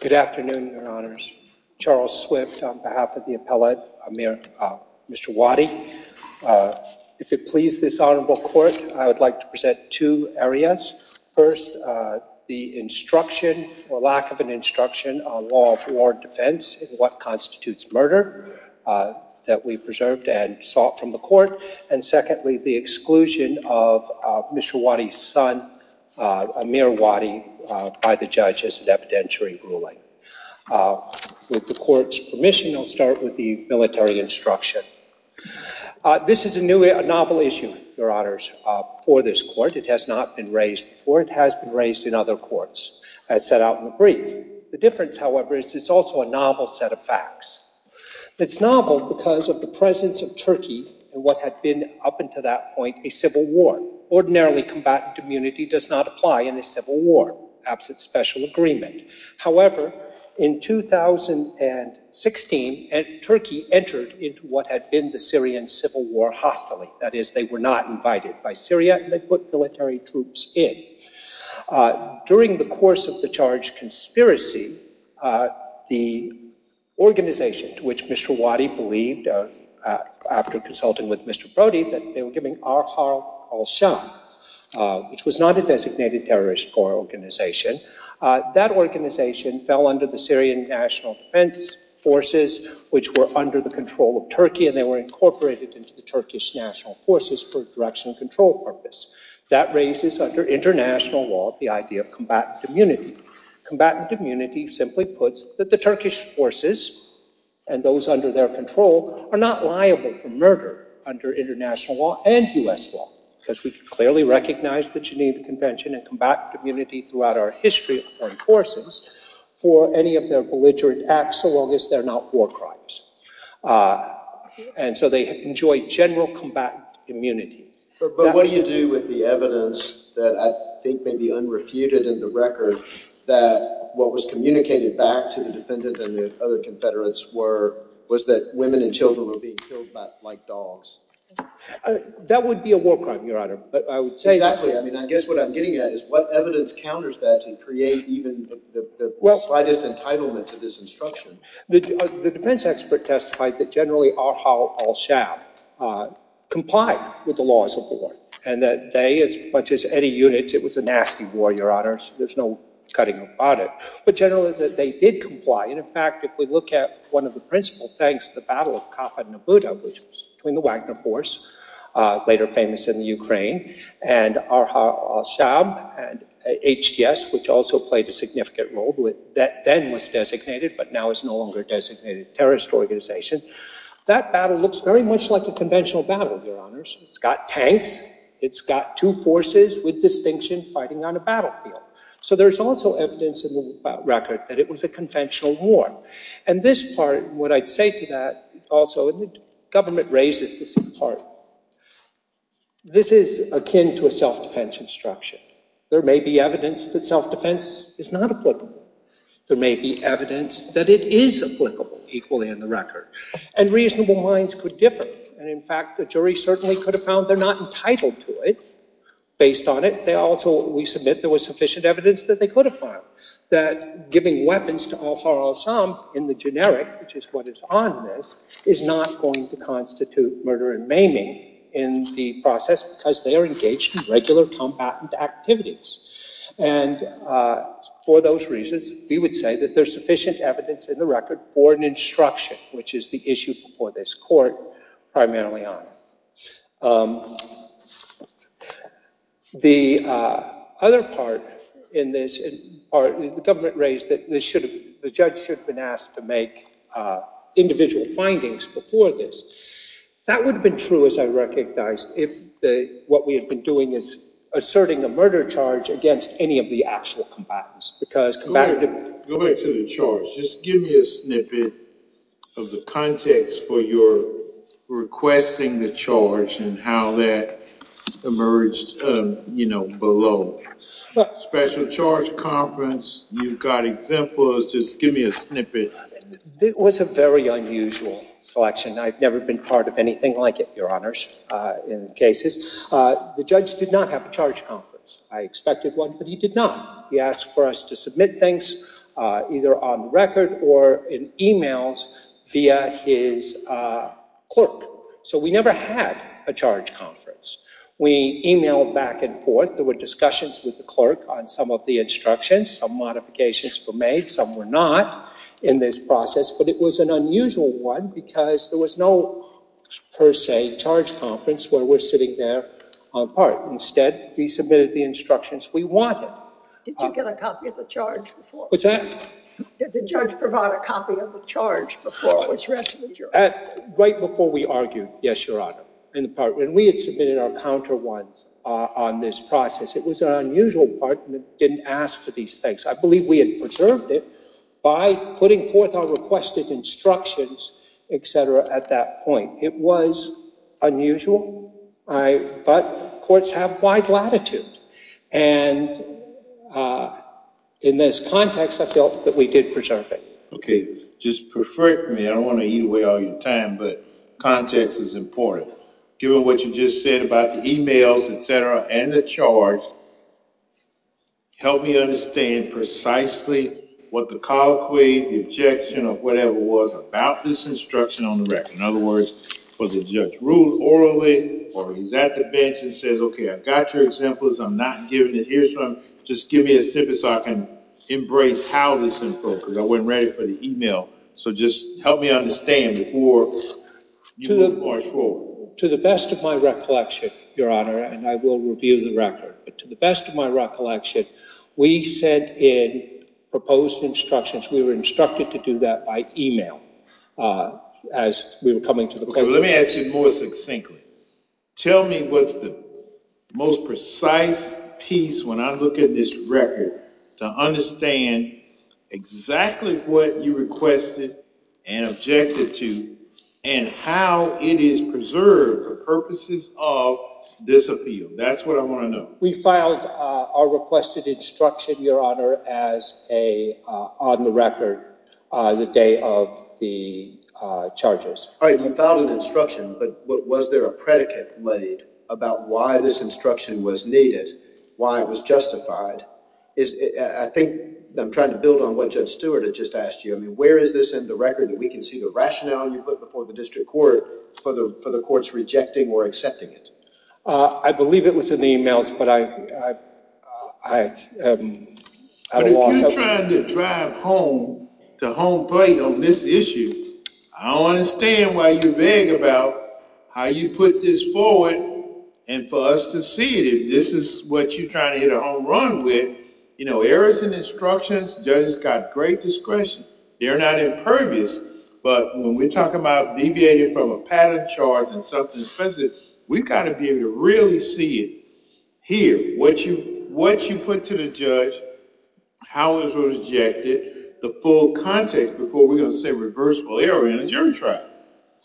Good afternoon, your honors. Charles Swift on behalf of the appellate, Mr. Wadi. If it please this honorable court, I would like to present two areas. First, the instruction or lack of an instruction on law of war defense and what constitutes murder that we preserved and sought from the court. And secondly, the exclusion of Mr. Wadi's son, Amir Wadi, by the judge as an evidentiary ruling. With the court's permission, I'll start with the military instruction. This is a novel issue, your honors, for this court. It has not been raised before. It has been raised in other courts, as set out in the brief. The difference, however, is it's also a novel set of facts. It's novel because of the presence of Turkey in what had been up until that point a civil war. Ordinarily, combatant immunity does not apply in a civil war, perhaps it's special agreement. However, in 2016, Turkey entered into what had been the Syrian civil war hostilely. That is, they were not invited by Syria, and they put military troops in. During the course of the charged conspiracy, the organization to which Mr. Wadi believed, after consulting with Mr. Brody, that they were giving Arhar Al-Sham, which was not a designated terrorist organization, that organization fell under the Syrian National Defense Forces, which were under the control of Turkey, and they were incorporated into the Turkish National Forces for direction and control purpose. That raises, under international law, the idea of combatant immunity. Combatant immunity simply puts that the Turkish forces and those under their control are not liable for murder under international law and U.S. law, because we clearly recognize the Geneva Convention and combatant immunity throughout our history of foreign forces for any of their belligerent acts, so long as they're not war crimes. And so they enjoy general combatant immunity. But what do you do with the evidence that I think may be unrefuted in the record that what was communicated back to the defendant and the other Confederates was that women and children were being killed like dogs? That would be a war crime, Your Honor, but I would say... Exactly, I mean, I guess what I'm getting at is what evidence counters that to create even the slightest entitlement to this instruction? The defense expert testified that generally Ar-Hal Al-Shab complied with the laws of war, and that they, as much as any unit, it was a nasty war, Your Honor, so there's no cutting about it. But generally that they did comply, and in fact, if we look at one of the principal things, the Battle of Cappadnabudo, which was between the Wagner Force, later famous in the Ukraine, and Ar-Hal Al-Shab, and HDS, which also played a significant role, that then was designated, but now is no longer designated, terrorist organization, that battle looks very much like a conventional battle, Your Honors. It's got tanks, it's got two forces with distinction fighting on a battlefield. So there's also evidence in the record that it was a conventional war. And this part, what I'd say to that, also, and the government raises this in part, this is akin to a self-defense instruction. There may be evidence that it is applicable, equally in the record. And reasonable minds could differ, and in fact, the jury certainly could have found they're not entitled to it, based on it. They also, we submit, there was sufficient evidence that they could have found that giving weapons to Ar-Hal Al-Shab in the generic, which is what is on this, is not going to constitute murder and maiming in the process, because they are engaged in regular combatant activities. And for those reasons, we would say that there's sufficient evidence in the record for an instruction, which is the issue before this court, primarily on. The other part in this, the government raised that the judge should have been asked to make individual findings before this. That would have been true, as I recognize, if what we had been doing is asserting a murder charge against any of the actual combatants. Go back to the charge. Just give me a snippet of the context for your requesting the charge and how that emerged below. Special charge conference, you've got exemplars, just give me a snippet. It was a very unusual selection. I've never been part of anything like it, your honors, in cases. The judge did not have a charge conference. I expected one, but he did not. He asked for us to submit things either on record or in emails via his clerk. So we never had a charge conference. We emailed back and forth. There were discussions with the clerk on some of the instructions. Some modifications were made, some were not in this process, but it was an unusual one because there was no, per se, charge conference where we're sitting there on a part. Instead, we submitted the instructions we wanted. Did you get a copy of the charge before? What's that? Did the judge provide a copy of the charge before it was read to the jury? Right before we argued, yes, your honor. We had submitted our counter ones on this process. It was an unusual part and it didn't ask for these things. I believe we had preserved it by putting forth our requested instructions, etc. at that point. It was unusual, but courts have wide latitude. In this context, I felt that we did preserve it. Okay, just pervert me. I don't want to eat away all your time, but context is important. Given what you just said about the emails, etc., and the charge, help me understand precisely what the colloquy, the objection, or whatever it was about this instruction on the record. In other words, was the judge rude orally, or he's at the bench and says, okay, I've got your examples. I'm not giving it here, so just give me a snippet so I can embrace how this is broken. I wasn't ready for the email, so just help me understand before you move the charge forward. To the best of my recollection, your honor, and I will review the record, but to the best of my recollection, we sent in proposed instructions. We were instructed to do that by email as we were coming to the court. Okay, let me ask you more succinctly. Tell me what's the most precise piece when I look at this record to understand exactly what you requested and objected to, and how it is preserved for purposes of disappeal. That's what I want to know. We filed our requested instruction, your honor, on the record on the day of the charges. All right, you filed an instruction, but was there a predicate laid about why this instruction was needed, why it was justified? I think I'm trying to build on what Judge Stewart had just asked you. I mean, where is this in the record that we can see the rationale you put before the district court for the courts rejecting or accepting it? I believe it was in the emails, but I don't know. But if you're trying to drive home to home plate on this issue, I don't understand why you beg about how you put this forward and for us to see it if this is what you're trying to hit a home run with. You know, errors in instructions, judges got great discretion. They're not impervious, but when we're talking about deviating from a pattern charge and something offensive, we've got to be able to really see it here. What you put to the judge, how it was rejected, the full context before we're going to say reversible error in a jury trial.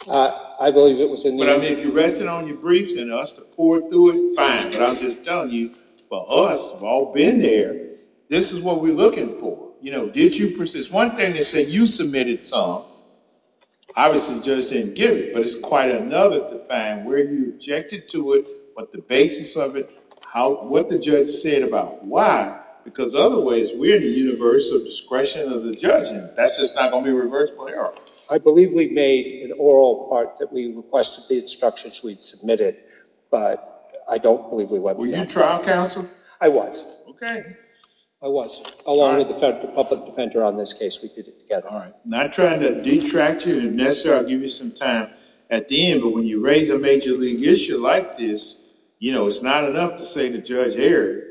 I believe it was in the emails. But I mean, if you rest it on your briefs and us to pour through it, fine. But I'm just telling you, for us, we've all been there. This is what we're looking for. You know, did you persist? One thing they said you submitted some. Obviously, the judge didn't give it, but it's quite another to find where you objected to it, what the basis of it, what the judge said about why. Because otherwise, we're in the universe of discretion of the judge, and that's just not going to be reversible error. I believe we made an oral part that we requested the instructions we'd submitted, but I don't believe we went with that. Were you trial counsel? I was. Okay. I was, along with the public defender on this case. We did it together. All right. Not trying to detract you. If necessary, I'll give you some time at the end. But when you raise a major league issue like this, you know, it's not enough to say the judge erred.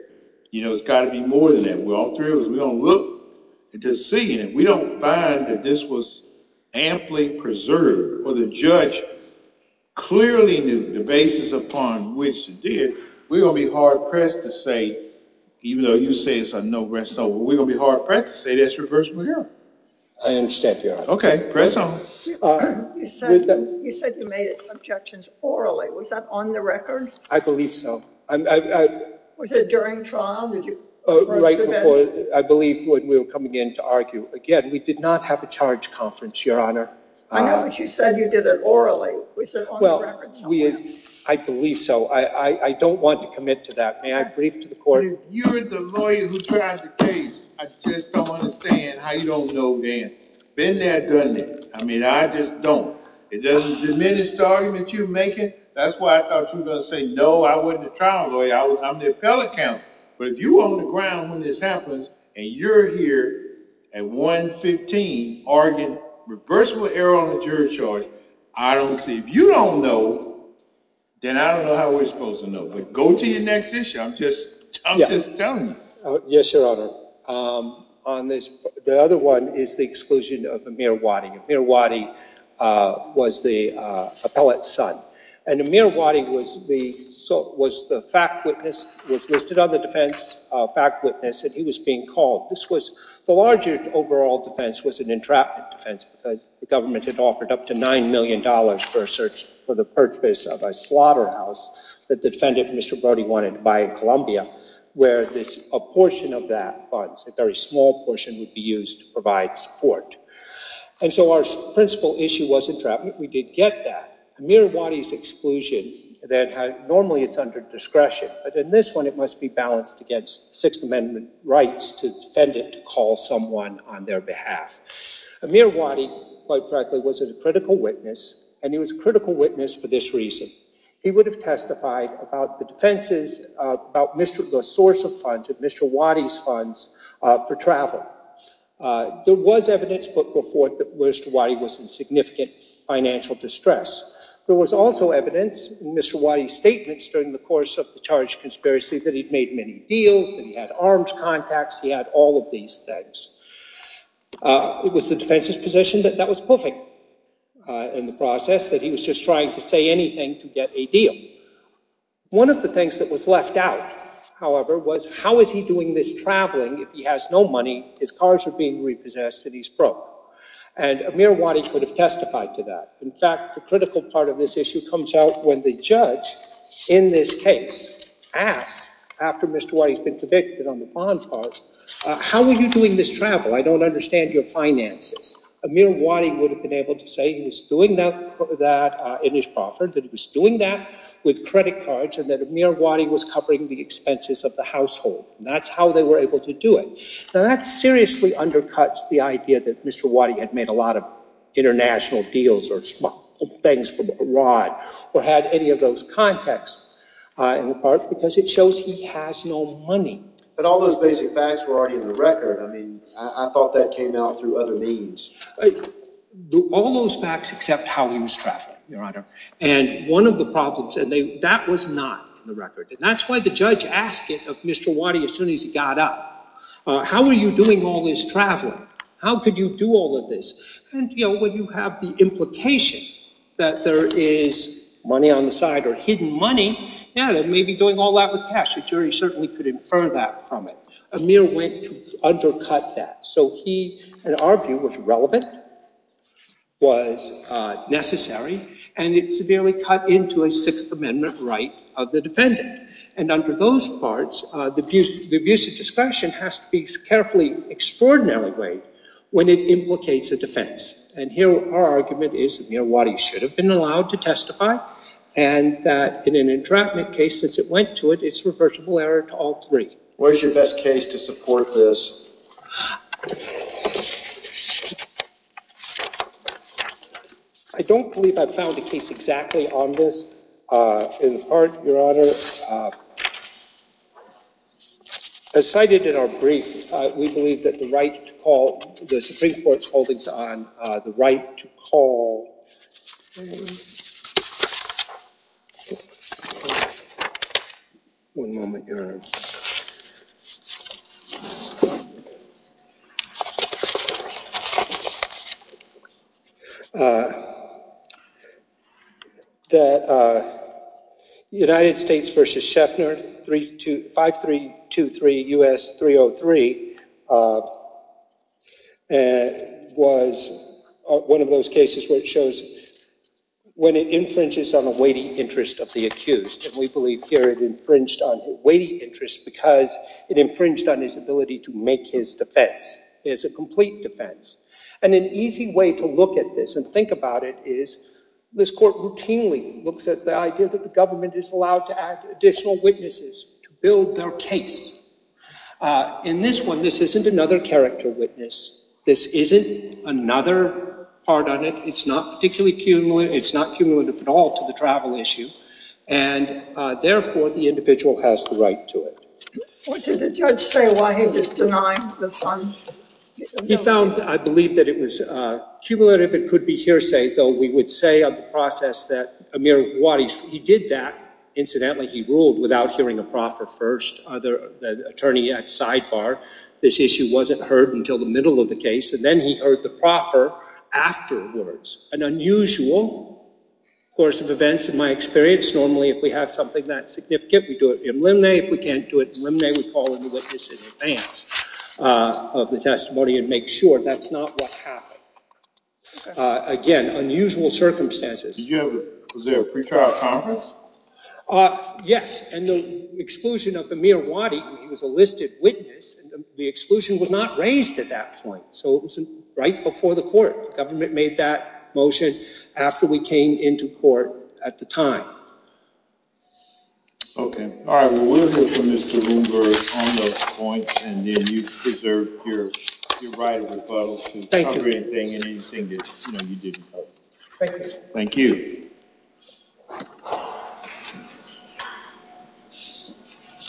You know, it's got to be more than that. We're all thrilled. We don't look to see it. We don't find that this was amply preserved, or the judge clearly knew the basis upon which it did. We're going to be hard-pressed to say, even though you say it's a no-brainer, we're going to be hard-pressed to say that's reversible error. I understand, Your Honor. Okay. Press on. You said you made objections orally. Was that on the record? I believe so. Was it during trial? Right before, I believe, when we were coming in to argue. Again, we did not have a charge conference, Your Honor. I know, but you said you did it orally. Was it on the record somewhere? I believe so. I don't want to commit to that. May I brief to the court? Your Honor, if you're the lawyer who tried the case, I just don't understand how you don't know the answer. Been there, done that. I mean, I just don't. It doesn't diminish the argument you're making. That's why I thought you were going to say, no, I wasn't a trial lawyer. I'm the appellate counsel. But if you were on the ground when this happens, and you're here at 115 arguing reversible error on the jury charge, I don't see it. If you don't know, then I don't know how we're supposed to know. But go to your next issue. I'm just telling you. Yes, Your Honor. The other one is the exclusion of Amir Wadi. Amir Wadi was the appellate's son. And Amir Wadi was the fact witness, was listed on the defense fact witness, and he was being called. The larger overall defense was an entrapment defense, because the government had offered up to $9 million for a search for the purchase of a slaughterhouse that the defendant, Mr. Brody, wanted to buy in Columbia, where a portion of that funds, a very small portion, would be used to provide support. And so our principal issue was entrapment. We did get that. Amir Wadi's exclusion, normally it's under discretion. But in this one, it must be balanced against the Sixth Amendment rights to the defendant to call someone on their behalf. Amir Wadi, quite frankly, was a critical witness. And he was a critical witness for this reason. He would have testified about the defenses, about the source of funds, of Mr. Wadi's funds for travel. There was evidence put forth that Mr. Wadi was in significant financial distress. There was also evidence in Mr. Wadi's statements during the course of the charge conspiracy that he'd made many deals, that he had arms contacts, he had all of these things. It was the defense's position that that was perfect in the process, that he was just trying to say anything to get a deal. One of the things that was left out, however, was how is he doing this traveling if he has no money, his cars are being repossessed, and he's broke? And Amir Wadi could have testified to that. In fact, the critical part of this issue comes out when the judge in this case asks, after Mr. Wadi's been convicted on the bond part, how are you doing this travel? I don't understand your finances. Amir Wadi would have been able to say he was doing that in his proffered, that he was doing that with credit cards, and that Amir Wadi was covering the expenses of the household. That's how they were able to do it. Now, that seriously undercuts the idea that Mr. Wadi had made a lot of international deals or things from abroad or had any of those contacts in the past because it shows he has no money. But all those basic facts were already in the facts except how he was traveling, Your Honor. And one of the problems, and that was not in the record, and that's why the judge asked it of Mr. Wadi as soon as he got up. How are you doing all this traveling? How could you do all of this? And, you know, when you have the implication that there is money on the side or hidden money, yeah, they may be doing all that with cash. The jury certainly could infer that from it. Amir went to undercut that. So he, in our view, was relevant, was necessary, and it severely cut into a Sixth Amendment right of the defendant. And under those parts, the abuse of discretion has to be carefully, extraordinarily weighed when it implicates a defense. And here our argument is that Amir Wadi should have been allowed to testify and that in an entrapment case, since it went to it, it's reversible error to all three. Where's your best case to support this? I don't believe I've found a case exactly on this. In part, Your Honor, as cited in our brief, we believe that the right to call, the Supreme Court's holdings on the right to call, that United States v. Scheffner, 5323 U.S. 303, was one of the first cases where it shows when it infringes on the weighty interest of the accused. And we believe here it infringed on the weighty interest because it infringed on his ability to make his defense. It's a complete defense. And an easy way to look at this and think about it is this court routinely looks at the idea that the government is allowed to add additional witnesses to build their case. In this one, this isn't another character witness. This isn't another part on it. It's not cumulative at all to the travel issue. And therefore, the individual has the right to it. What did the judge say why he was denying this one? He found, I believe, that it was cumulative. It could be hearsay, though we would say on the process that Amir Gowadish, he did that. Incidentally, he ruled without hearing a proffer first. The attorney at sidebar, this issue wasn't heard until the middle of the case. And then he heard the proffer afterwards. An unusual course of events in my experience. Normally, if we have something that significant, we do it in limine. If we can't do it in limine, we call a witness in advance of the testimony and make sure that's not what happened. Again, unusual circumstances. Was there a pretrial conference? Yes. And the exclusion of Amir Gowadish, he was a listed witness. The exclusion was not raised at that point. So it was right before the court. The government made that motion after we came into court at the time. Okay. All right. Well, we'll hear from Mr. Bloomberg on those points and then you preserve your right of rebuttal to cover anything and anything that you didn't cover. Thank you. Thank you.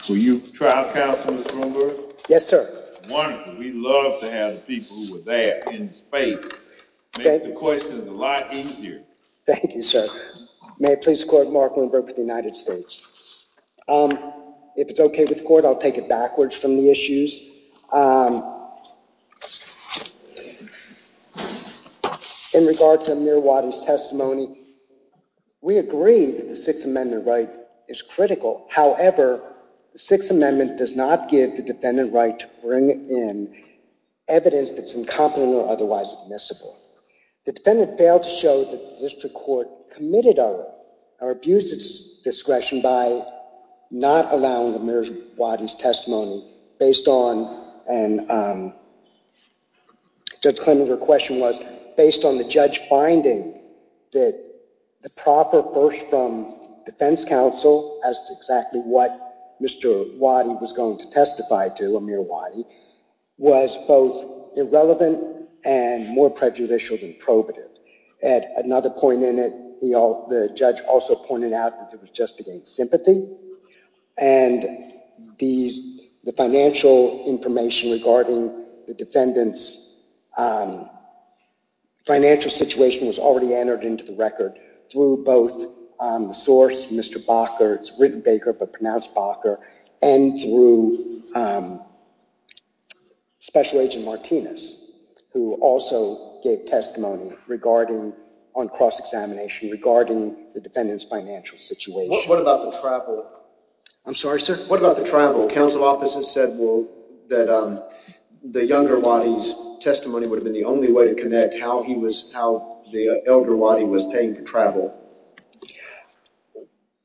Were you trial counsel, Mr. Bloomberg? Yes, sir. Wonderful. We love to have people who are there in the space. Makes the questions a lot easier. Thank you, sir. May I please court Mark Bloomberg for the United States? If it's okay with the court, I'll take it backwards from the issues. In regard to Amir Gowadish's testimony, we agree that the Sixth Amendment right is critical. However, the Sixth Amendment does not give the defendant right to bring in evidence that's incompetent or otherwise admissible. The defendant failed to show that the district court committed or abused its discretion by not allowing Amir Gowadish's testimony based on, and Judge Klemenger's based on the judge finding that the proper first from defense counsel as to exactly what Mr. Gowadish was going to testify to, Amir Gowadish, was both irrelevant and more prejudicial than probative. At another point in it, the judge also pointed out that it was just against sympathy. And the financial information regarding the defendant's financial situation was already entered into the record through both the source, Mr. Bakker, it's written Baker, but pronounced Bakker, and through Special Agent Martinez, who also gave testimony on cross-examination regarding the defendant's financial situation. What about the travel? I'm sorry, sir? What about the travel? Counsel officers said that the younger Wadi's testimony would have been the only way to connect how the elder Wadi was paying for travel.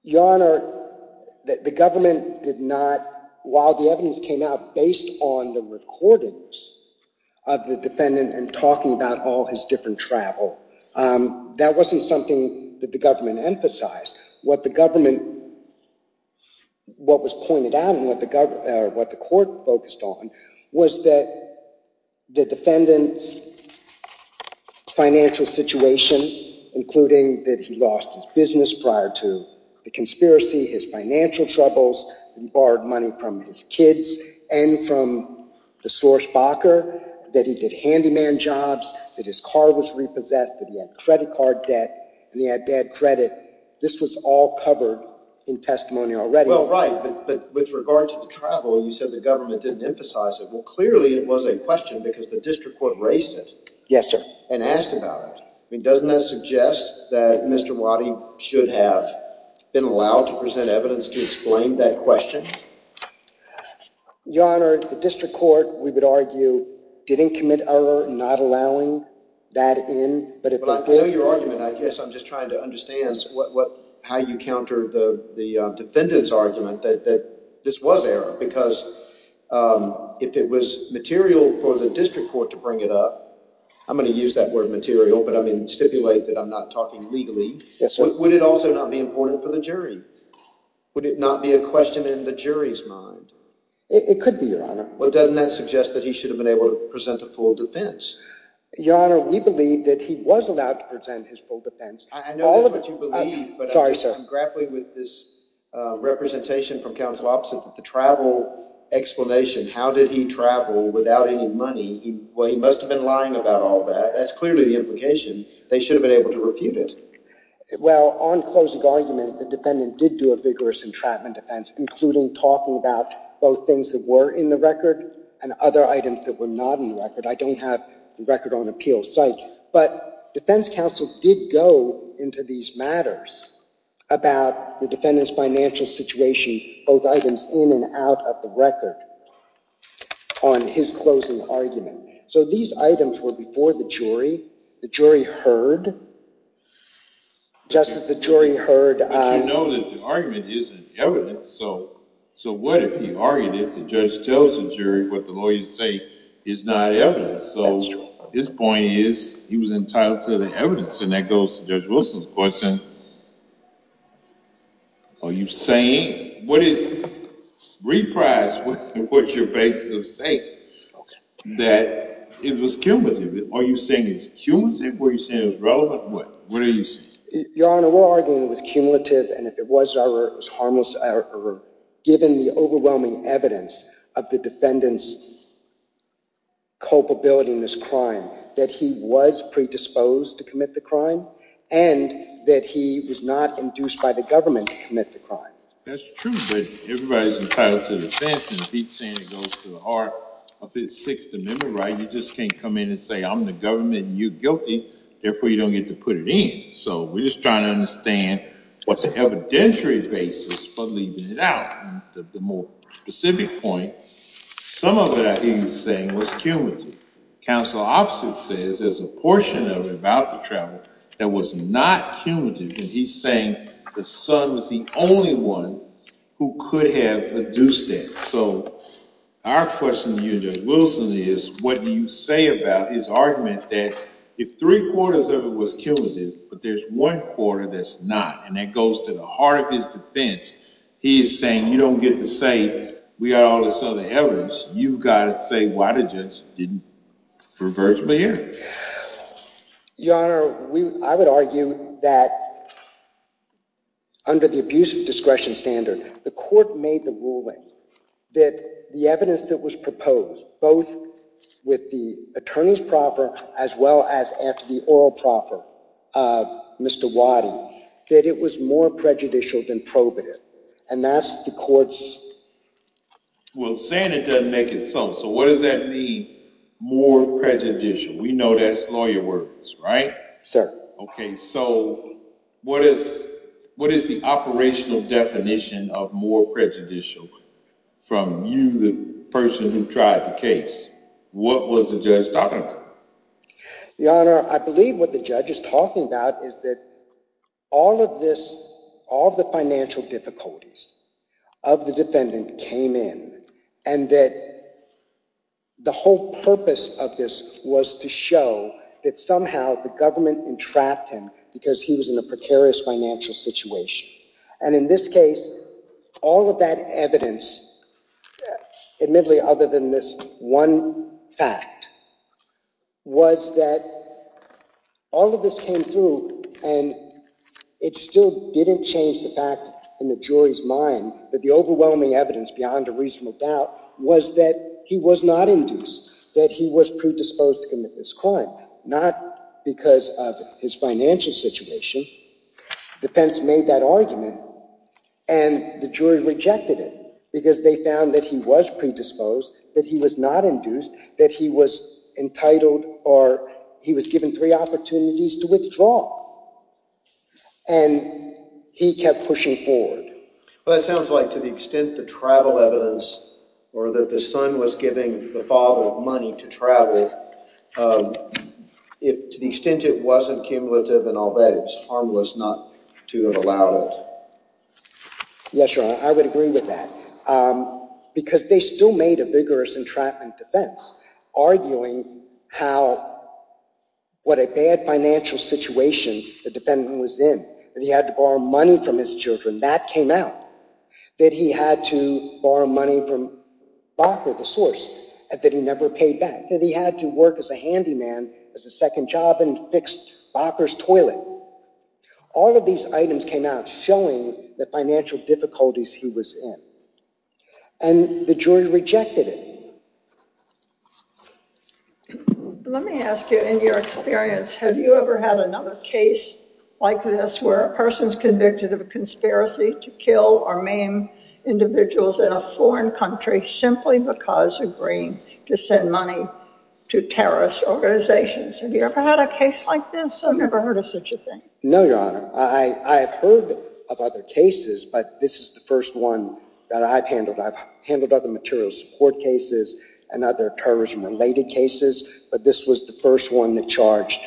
Your Honor, the government did not, while the evidence came out based on the recordings of the defendant and talking about all his different travel, that wasn't something that the government emphasized. What the government, what was pointed out and what the court focused on was that the defendant's financial situation, including that he lost his business prior to the conspiracy, his financial troubles, borrowed money from his kids and from the source, Bakker, that he did handyman jobs, that his car was repossessed, that he had credit card debt, and he had bad credit. This was all covered in testimony already. Well, right, but with regard to the travel, you said the government didn't emphasize it. Well, clearly it was a question because the district court raised it. Yes, sir. And asked about it. I mean, doesn't that suggest that Mr. Wadi should have been allowed to present evidence to explain that question? Your Honor, the district court, we would argue, didn't commit error in not allowing that in. I know your argument, I guess I'm just trying to understand how you counter the defendant's argument that this was error because if it was material for the district court to bring it up, I'm going to use that word material, but I mean stipulate that I'm not talking legally, would it also not be important for the jury? Would it not be a question in the jury's mind? It could be, Your Honor. Well, doesn't that suggest that he should have been able to present a full defense? Your Honor, we believe that he was allowed to present his full defense. I know that's what you believe. Sorry, sir. But I'm grappling with this representation from counsel opposite that the travel explanation, how did he travel without any money, well, he must have been lying about all that. That's clearly the implication. They should have been able to refute it. Well, on closing argument, the defendant did do a vigorous entrapment defense, including talking about both things that were in the record and other items that were not in the record. I don't have the record on appeal site. But defense counsel did go into these matters about the defendant's financial situation, both items in and out of the record on his closing argument. So these items were before the jury. The jury heard? Justice, the jury heard. But you know that the argument isn't evidence. So what if he argued it? The judge tells the jury what the lawyers say is not evidence. So his point is he was entitled to the evidence. And that goes to Judge Wilson's question, are you saying? Reprise what you're basically saying, that it was cumulative. Are you saying it's cumulative? Are you saying it's relevant? What are you saying? Your Honor, we're arguing it was cumulative. And if it was, it was harmless or given the overwhelming evidence of the defendant's culpability in this crime, that he was predisposed to commit the crime and that he was not induced by the government to commit the crime. That's true. But everybody's entitled to the defense. And he's saying it goes to the heart of his Sixth Amendment right. You just can't come in and say I'm the government and you're guilty. Therefore, you don't get to put it in. So we're just trying to understand what the evidentiary basis for leaving it out. The more specific point, some of it I hear you saying was cumulative. Counsel opposite says there's a portion of it about the travel that was not cumulative. And he's saying the son was the only one who could have induced that. So our question to you, Judge Wilson, is what do you say about his argument that if three-quarters of it was cumulative, but there's one quarter that's not, and that goes to the heart of his defense, he's saying you don't get to say we got all this other evidence. You've got to say why the judge didn't converge me here. Your Honor, I would argue that under the abuse of discretion standard, the court made the ruling that the evidence that was proposed, both with the attorney's proffer as well as after the oral proffer, Mr. Waddy, that it was more prejudicial than probative. And that's the court's. Well, saying it doesn't make it something. So what does that mean, more prejudicial? We know that's lawyer words, right? Sir. Okay. So what is the operational definition of more prejudicial from you, the person who tried the case? What was the judge talking about? Your Honor, I believe what the judge is talking about is that all of this, all of the financial difficulties of the defendant came in, and that the whole purpose of this was to show that somehow the government entrapped him because he was in a precarious financial situation. And in this case, all of that evidence, admittedly other than this one fact, was that all of this came through, and it still didn't change the fact in the jury's mind that the overwhelming evidence beyond a reasonable doubt was that he was not induced, that he was predisposed to commit this crime. Not because of his financial situation. Defense made that argument, and the jury rejected it because they found that he was predisposed, that he was not induced, that he was entitled, or he was given three opportunities to withdraw. And he kept pushing forward. Well, that sounds like to the extent the travel evidence, or that the son was giving the father money to travel, to the extent it wasn't cumulative and all that, it's harmless not to have allowed it. Yes, Your Honor, I would agree with that. Because they still made a vigorous entrapment defense, arguing how what a bad financial situation the defendant was in, that he had to borrow money from his children, that came out. That he had to borrow money from Bacher, the source, that he never paid back. That he had to work as a handyman as a second job and fix Bacher's toilet. All of these items came out showing the financial difficulties he was in. And the jury rejected it. Let me ask you, in your experience, have you ever had another case like this where a person's convicted of a conspiracy to kill or maim individuals in a foreign country simply because of agreeing to send money to terrorist organizations? Have you ever had a case like this? I've never heard of such a thing. No, Your Honor. I have heard of other cases, but this is the first one that I've handled. I've handled other material support cases and other terrorism-related cases, but this was the first one that charged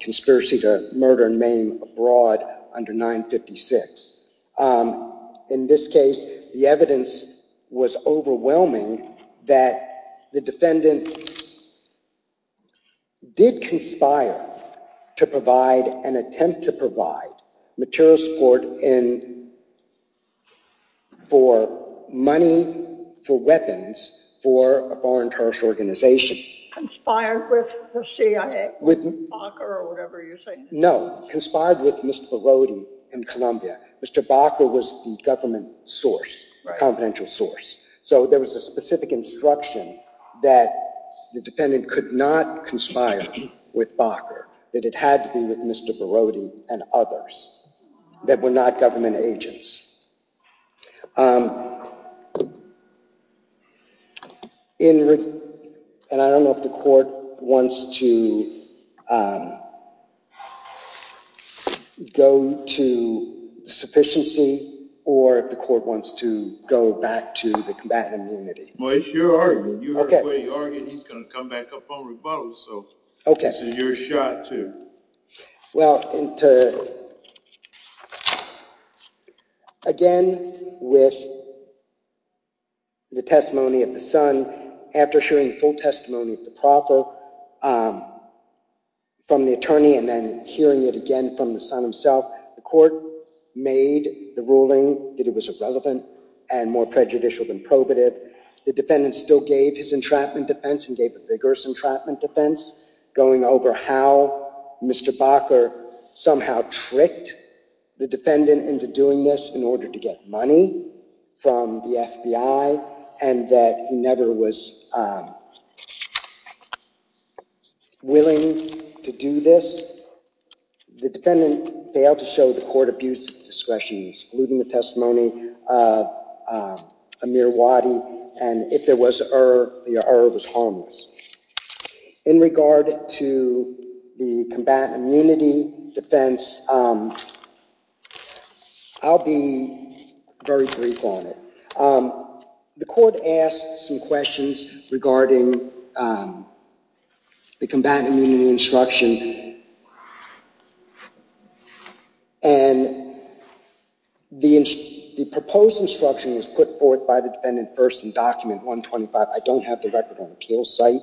conspiracy to murder and maim abroad under 956. In this case, the evidence was overwhelming that the defendant did conspire to provide and attempt to provide material support for money for weapons for a foreign terrorist organization. Conspired with the CIA or Bacher or whatever you say. No, conspired with Mr. Barodi in Colombia. Mr. Bacher was the government source, confidential source. So there was a specific instruction that the defendant could not conspire with Bacher, that it had to be with Mr. Barodi and others that were not government agents. I don't know if the court wants to go to sufficiency or if the court wants to go back to the combatant immunity. Well, it's your argument. You heard what he argued. He's going to come back up on rebuttal, so this is your shot, too. Well, again, with the testimony of the son, after sharing the full testimony of the proffer from the attorney and then hearing it again from the son himself, the court made the ruling that it was irrelevant and more prejudicial than probative. The defendant still gave his entrapment defense and gave a vigorous entrapment defense, going over how Mr. Bacher somehow tricked the defendant into doing this in order to get money from the FBI and that he never was willing to do this. The defendant failed to show the court abuse of discretion, excluding the testimony of Amir Wadi, and if there was err, the err was harmless. In regard to the combatant immunity defense, I'll be very brief on it. The court asked some questions regarding the combatant immunity instruction, and the proposed instruction was put forth by the defendant first in document 125. I don't have the record on the appeals site,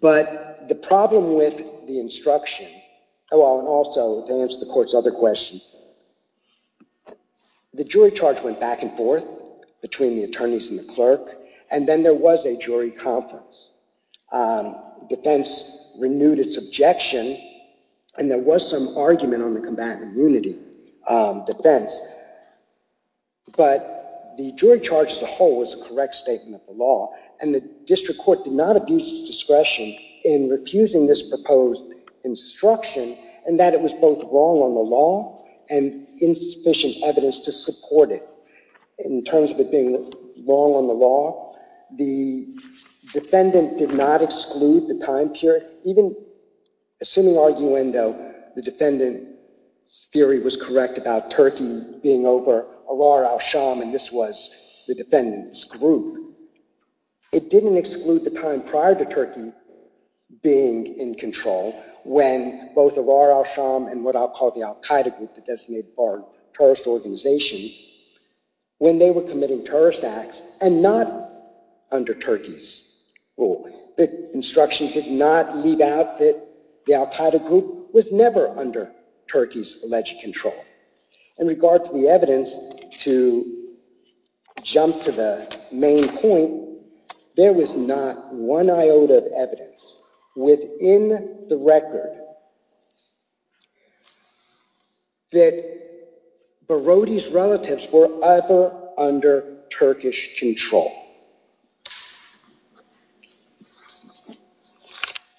but the problem with the instruction, and also to answer the court's other question, the jury charge went back and forth between the attorneys and the clerk, and then there was a jury conference. Defense renewed its objection, and there was some argument on the combatant immunity defense, but the jury charge as a whole was a correct statement of the law, and the district court did not abuse its discretion in refusing this proposed instruction, and that it was both wrong on the law and insufficient evidence to support it. In terms of it being wrong on the law, the defendant did not exclude the time period, even assuming arguendo, the defendant's theory was correct about Turkey being over Arar Al-Sham, and this was the defendant's group. It didn't exclude the time prior to Turkey being in control, when both Arar Al-Sham and what I'll call the Al-Qaeda group, the designated terrorist organization, when they were committing terrorist acts, and not under Turkey's ruling. The instruction did not leave out that the Al-Qaeda group was never under Turkey's alleged control. In regard to the evidence, to jump to the main point, there was not one iota of evidence within the record that Barodi's relatives were ever under Turkish control.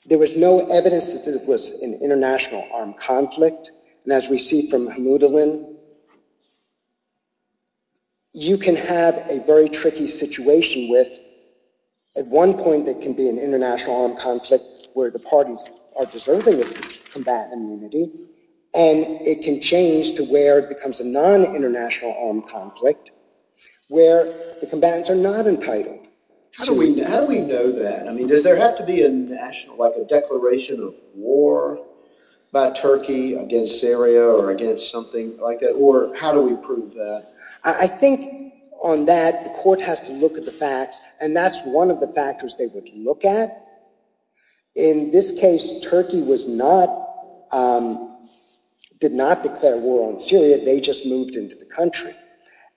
There was no evidence that it was an international armed conflict, and as we see from Hamouda Linn, you can have a very tricky situation with, at one point there can be an international armed conflict where the parties are deserving of combatant immunity, and it can change to where it becomes a non-international armed conflict, where the combatants are not entitled. How do we know that? Does there have to be a declaration of war by Turkey against Syria or against something like that, or how do we prove that? I think on that, the court has to look at the facts, and that's one of the factors they would look at. In this case, Turkey did not declare war on Syria, they just moved into the country.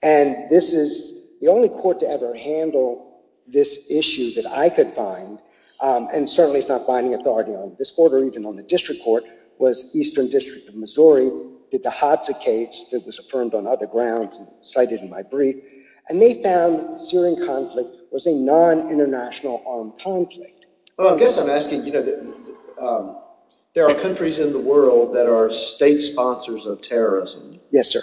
And this is the only court to ever handle this issue that I could find, and certainly it's not binding authority on this court or even on the district court, was Eastern District of Missouri, did the Hadza case that was affirmed on other grounds, cited in my brief, and they found the Syrian conflict was a non-international armed conflict. Well, I guess I'm asking, you know, there are countries in the world that are state sponsors of terrorism. Yes, sir.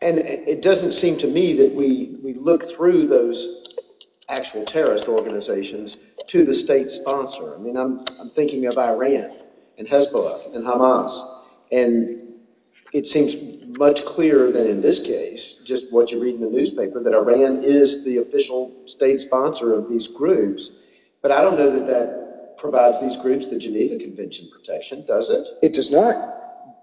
And it doesn't seem to me that we look through those actual terrorist organizations to the state sponsor. I mean, I'm thinking of Iran and Hezbollah and Hamas, and it seems much clearer than in this case, just what you read in the newspaper, that Iran is the official state sponsor of these groups, but I don't know that that provides these groups the Geneva Convention protection, does it? It does not,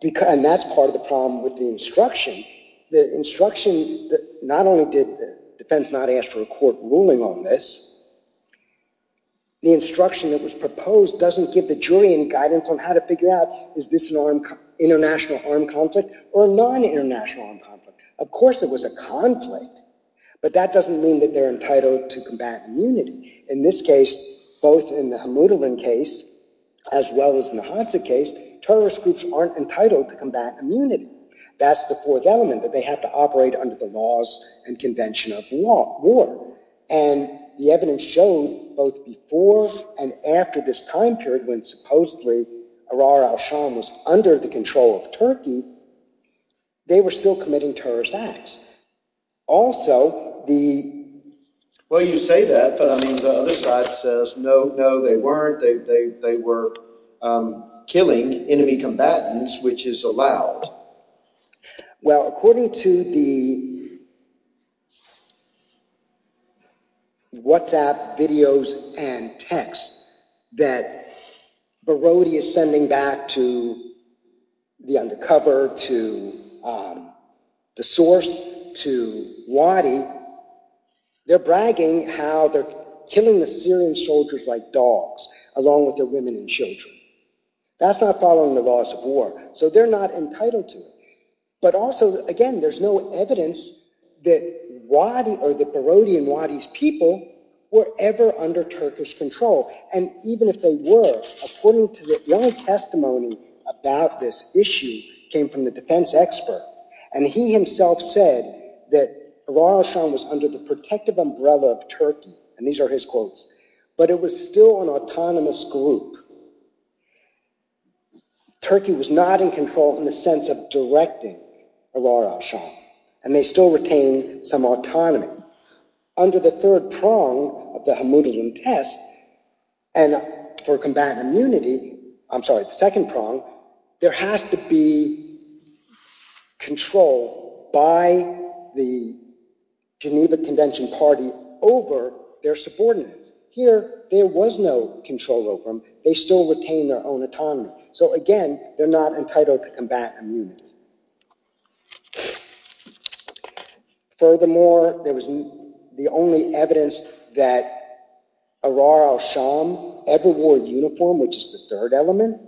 and that's part of the problem with the instruction. The instruction not only did the defense not ask for a court ruling on this, the instruction that was proposed doesn't give the jury any guidance on how to figure out, is this an international armed conflict or a non-international armed conflict? Of course it was a conflict, but that doesn't mean that they're entitled to combat immunity. In this case, both in the Hamouda case, as well as in the Hadza case, terrorist groups aren't entitled to combat immunity. That's the fourth element, that they have to operate under the laws and convention of war. And the evidence showed, both before and after this time period, when supposedly Ahrar al-Sham was under the control of Turkey, they were still committing terrorist acts. Also, the... Well, you say that, but I mean, the other side says, no, no, they weren't, they were killing enemy combatants, which is allowed. Well, according to the... WhatsApp videos and texts that Barodi is sending back to the undercover, to the source, to Wadi, they're bragging how they're killing Assyrian soldiers like dogs, along with their women and children. That's not following the laws of war. So they're not entitled to it. But also, again, there's no evidence that Barodi and Wadi's people were ever under Turkish control. And even if they were, according to the only testimony about this issue came from the defense expert. And he himself said that Ahrar al-Sham was under the protective umbrella of Turkey, and these are his quotes, but it was still an autonomous group. Turkey was not in control in the sense of directing Ahrar al-Sham, and they still retained some autonomy. Under the third prong of the Hamoudilin test, and for combat immunity, I'm sorry, the second prong, there has to be control by the Geneva Convention party over their subordinates. Here, there was no control over them. They still retained their own autonomy. So again, they're not entitled to combat immunity. Furthermore, there was the only evidence that Ahrar al-Sham ever wore a uniform, which is the third element,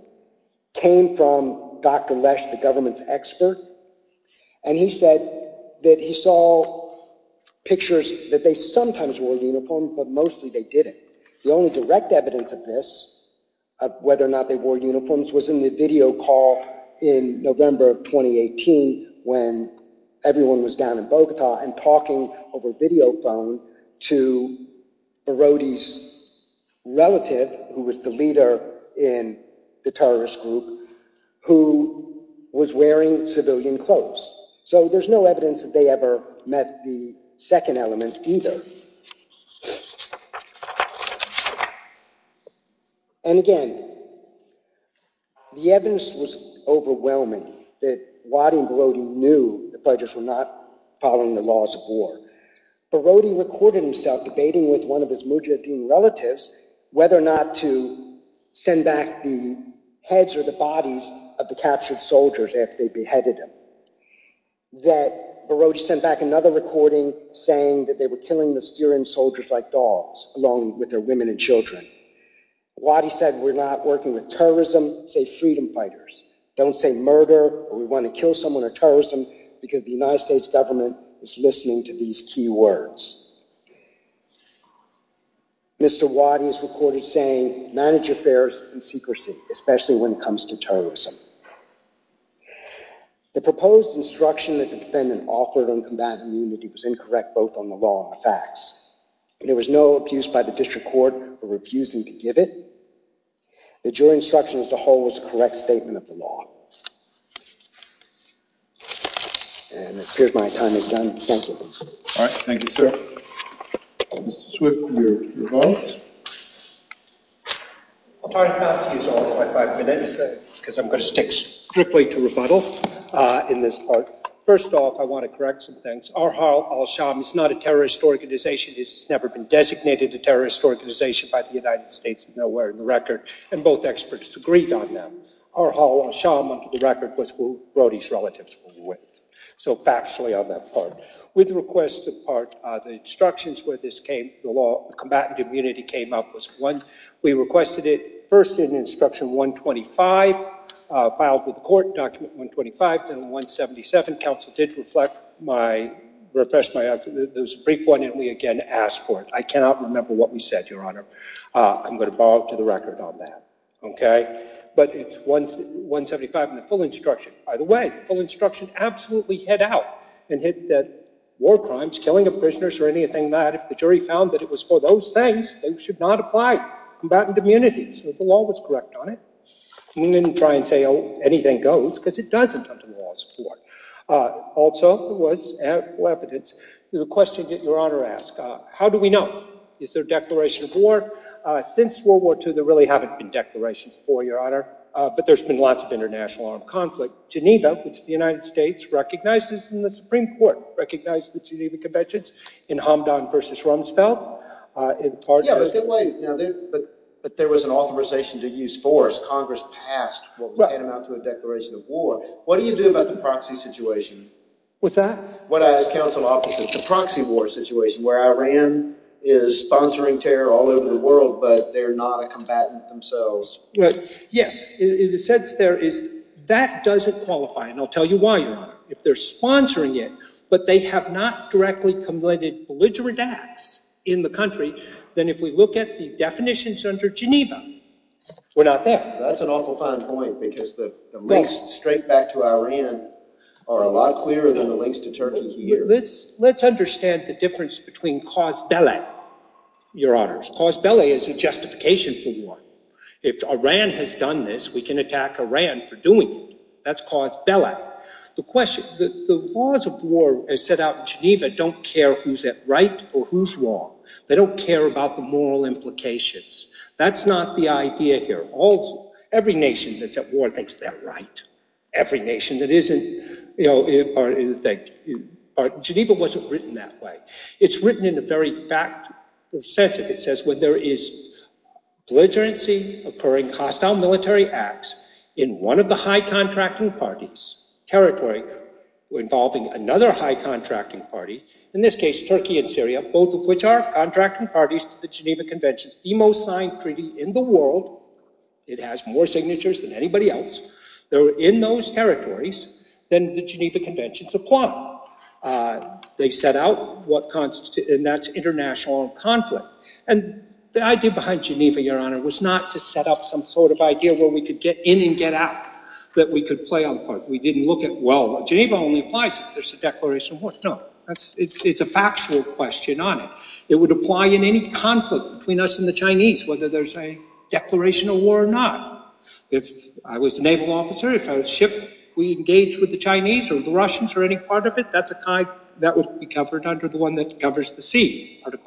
came from Dr. Lesh, the government's expert, and he said that he saw pictures that they sometimes wore uniforms, but mostly they didn't. The only direct evidence of this, of whether or not they wore uniforms, was in the video call in November of 2018 when everyone was down in Bogota and talking over video phone to Birodi's relative, who was the leader in the terrorist group, who was wearing civilian clothes. So there's no evidence that they ever met the second element either. And again, the evidence was overwhelming, that Wadi and Birodi knew the Fudges were not following the laws of war. Birodi recorded himself debating with one of his Mujahideen relatives whether or not to send back the heads or the bodies of the captured soldiers after they beheaded him. Birodi sent back another recording saying that they were killing the Syrian soldiers like dogs, along with their women and children. Wadi said, we're not working with terrorism, say freedom fighters. Don't say murder, or we want to kill someone, or terrorism, because the United States government is listening to these key words. Mr. Wadi is recorded saying, manage affairs in secrecy, especially when it comes to terrorism. The proposed instruction that the defendant offered on combating the unity was incorrect both on the law and the facts. There was no abuse by the district court for refusing to give it. The jury instruction as a whole was a correct statement of the law. And it appears my time is done. Thank you. All right. Thank you, sir. Mr. Swift, your vote. I'll try not to use all of my five minutes, because I'm going to stick strictly to rebuttal in this part. First off, I want to correct some things. Arhal al-Sham is not a terrorist organization. It's never been designated a terrorist organization by the United States of nowhere in the record, and both experts agreed on that. Arhal al-Sham, under the record, was who Birodi's relatives were with. So factually on that part. With the requested part, the instructions where this came, the law, the combatant immunity came up was one. We requested it first in instruction 125, filed with the court, document 125, then 177. Counsel did reflect my, refresh my argument. There was a brief one, and we again asked for it. I cannot remember what we said, Your Honor. I'm going to borrow it to the record on that. But it's 175 in the full instruction. By the way, the full instruction absolutely hit out and hit that war crimes, killing of prisoners or anything that, if the jury found that it was for those things, they should not apply combatant immunities. The law was correct on it. We didn't try and say, oh, anything goes, because it doesn't under the law of the court. Also, there was evidence to the question that Your Honor asked. How do we know? Is there a declaration of war? Since World War II, there really haven't been declarations of war, Your Honor, but there's been lots of international armed conflict. Geneva, which the United States recognizes in the Supreme Court, recognized the Geneva Conventions in Hamdan versus Rumsfeld. Yeah, but there was an authorization to use force. Congress passed what was tantamount to a declaration of war. What do you do about the proxy situation? What's that? What I, as counsel officer, the proxy war situation, where Iran is sponsoring terror all over the world, but they're not a combatant themselves. Yes, in the sense there is that doesn't qualify, and I'll tell you why, Your Honor. If they're sponsoring it, but they have not directly committed belligerent acts in the country, then if we look at the definitions under Geneva, we're not there. That's an awful fine point because the links straight back to Iran are a lot clearer than the links to Turkey here. Let's understand the difference between cause belle, Your Honors. Cause belle is a justification for war. If Iran has done this, we can attack Iran for doing it. That's cause belle. The laws of war, as set out in Geneva, don't care who's at right or who's wrong. They don't care about the moral implications. That's not the idea here. Every nation that's at war thinks they're right. Every nation that isn't, you know, or Geneva wasn't written that way. It's written in the very sense of it says when there is belligerency, occurring hostile military acts in one of the high contracting parties, territory involving another high contracting party, in this case Turkey and Syria, both of which are contracting parties to the Geneva Conventions, the most signed treaty in the world. It has more signatures than anybody else. They're in those territories. Then the Geneva Conventions apply. They set out what constitutes, and that's international conflict. And the idea behind Geneva, Your Honor, was not to set up some sort of idea where we could get in and get out, that we could play on the part. We didn't look at, well, Geneva only applies if there's a declaration of war. No, it's a factual question on it. It would apply in any conflict between us and the Chinese, whether there's a declaration of war or not. If I was a naval officer, if I was a ship, we engage with the Chinese or the Russians or any part of it, that would be covered under the one that covers the sea, the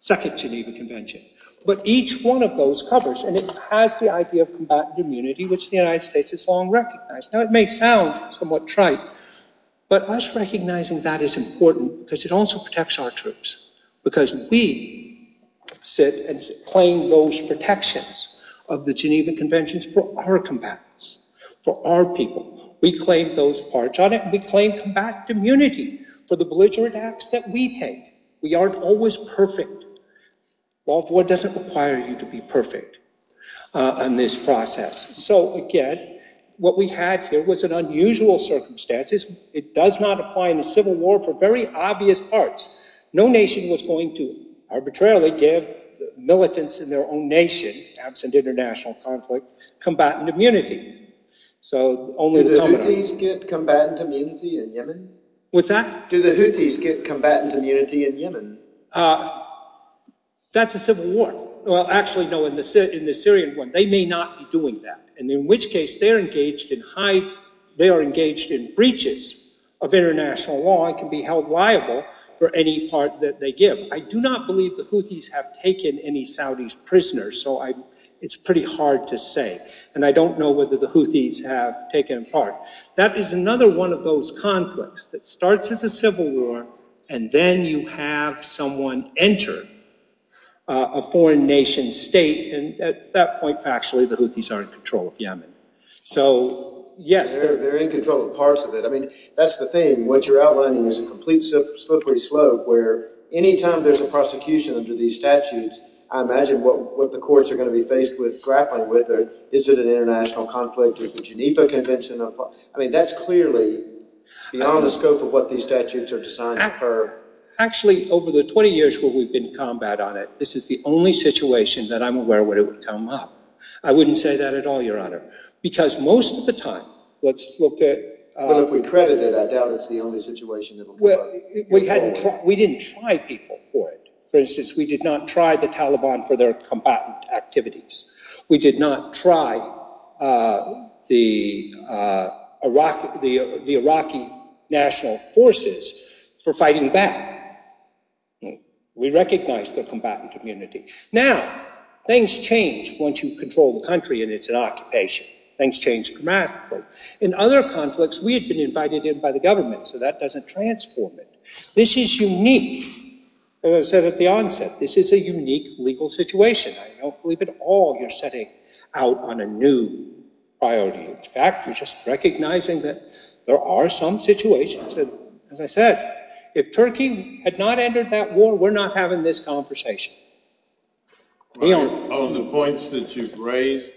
second Geneva Convention. But each one of those covers, and it has the idea of combatant immunity, which the United States has long recognized. Now, it may sound somewhat trite, but us recognizing that is important because it also protects our troops because we sit and claim those protections of the Geneva Conventions for our combatants, for our people. We claim those parts on it. We claim combatant immunity for the belligerent acts that we take. We aren't always perfect. World War doesn't require you to be perfect in this process. So, again, what we had here was an unusual circumstance. It does not apply in a civil war for very obvious parts. No nation was going to arbitrarily give militants in their own nation absent international conflict combatant immunity. Do the Houthis get combatant immunity in Yemen? What's that? Do the Houthis get combatant immunity in Yemen? That's a civil war. Well, actually, no, in the Syrian one, they may not be doing that, in which case they are engaged in breaches of international law and can be held liable for any part that they give. I do not believe the Houthis have taken any Saudis prisoners, so it's pretty hard to say, and I don't know whether the Houthis have taken part. That is another one of those conflicts that starts as a civil war and then you have someone enter a foreign nation state, and at that point, factually, the Houthis are in control of Yemen. So, yes. They're in control of parts of it. I mean, that's the thing. What you're outlining is a complete slippery slope where any time there's a prosecution under these statutes, I imagine what the courts are going to be faced with grappling with it, is it an international conflict, is it the Geneva Convention? I mean, that's clearly beyond the scope of what these statutes are designed to curb. Actually, over the 20 years where we've been in combat on it, this is the only situation that I'm aware of where it would come up. I wouldn't say that at all, Your Honor, because most of the time, let's look at... Well, if we credit it, I doubt it's the only situation that it would come up. We didn't try people for it. For instance, we did not try the Taliban for their combatant activities. We did not try the Iraqi national forces for fighting back. We recognized their combatant immunity. Now, things change once you control the country and it's an occupation. Things change dramatically. In other conflicts, we had been invited in by the government, so that doesn't transform it. This is unique, as I said at the onset. This is a unique legal situation. I don't believe at all you're setting out on a new priority. In fact, you're just recognizing that there are some situations that, as I said, if Turkey had not entered that war, we're not having this conversation. On the points that you've raised,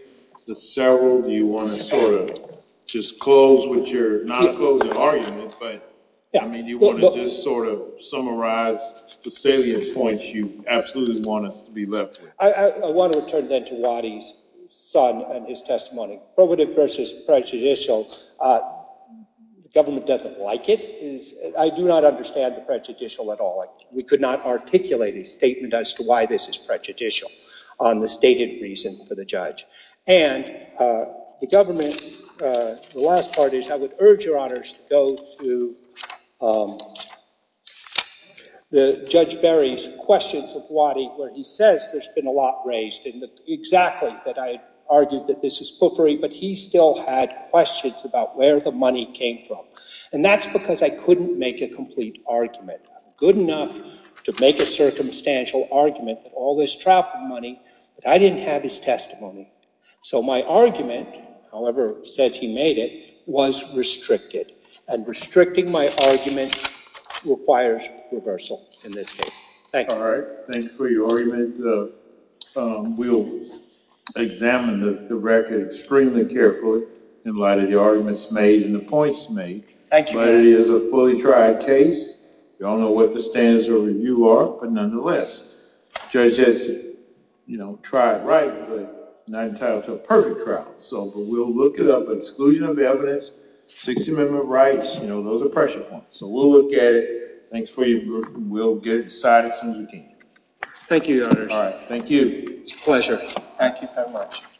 the several, do you want to sort of just close what you're... Do you want to sort of summarize the salient points you absolutely want us to be left with? I want to return then to Wadi's son and his testimony. Provative versus prejudicial, the government doesn't like it. I do not understand the prejudicial at all. We could not articulate a statement as to why this is prejudicial on the stated reason for the judge. And the government, the last part is I would urge your honors to go to Judge Berry's questions of Wadi where he says there's been a lot raised. Exactly, that I argued that this is poofery, but he still had questions about where the money came from. And that's because I couldn't make a complete argument. I'm good enough to make a circumstantial argument that all this travel money, but I didn't have his testimony. So my argument, however, says he made it, was restricted. And restricting my argument requires reversal in this case. Thank you. All right, thanks for your argument. We'll examine the record extremely carefully in light of the arguments made and the points made. Thank you. Wadi is a fully tried case. We don't know what the standards of review are, but nonetheless, the judge has tried right, but not entitled to a perfect trial. But we'll look it up. Exclusion of evidence, 60 amendment rights, those are pressure points. So we'll look at it. Thanks for your group, and we'll get it decided as soon as we can. Thank you, your honors. All right, thank you. It's a pleasure. Thank you very much.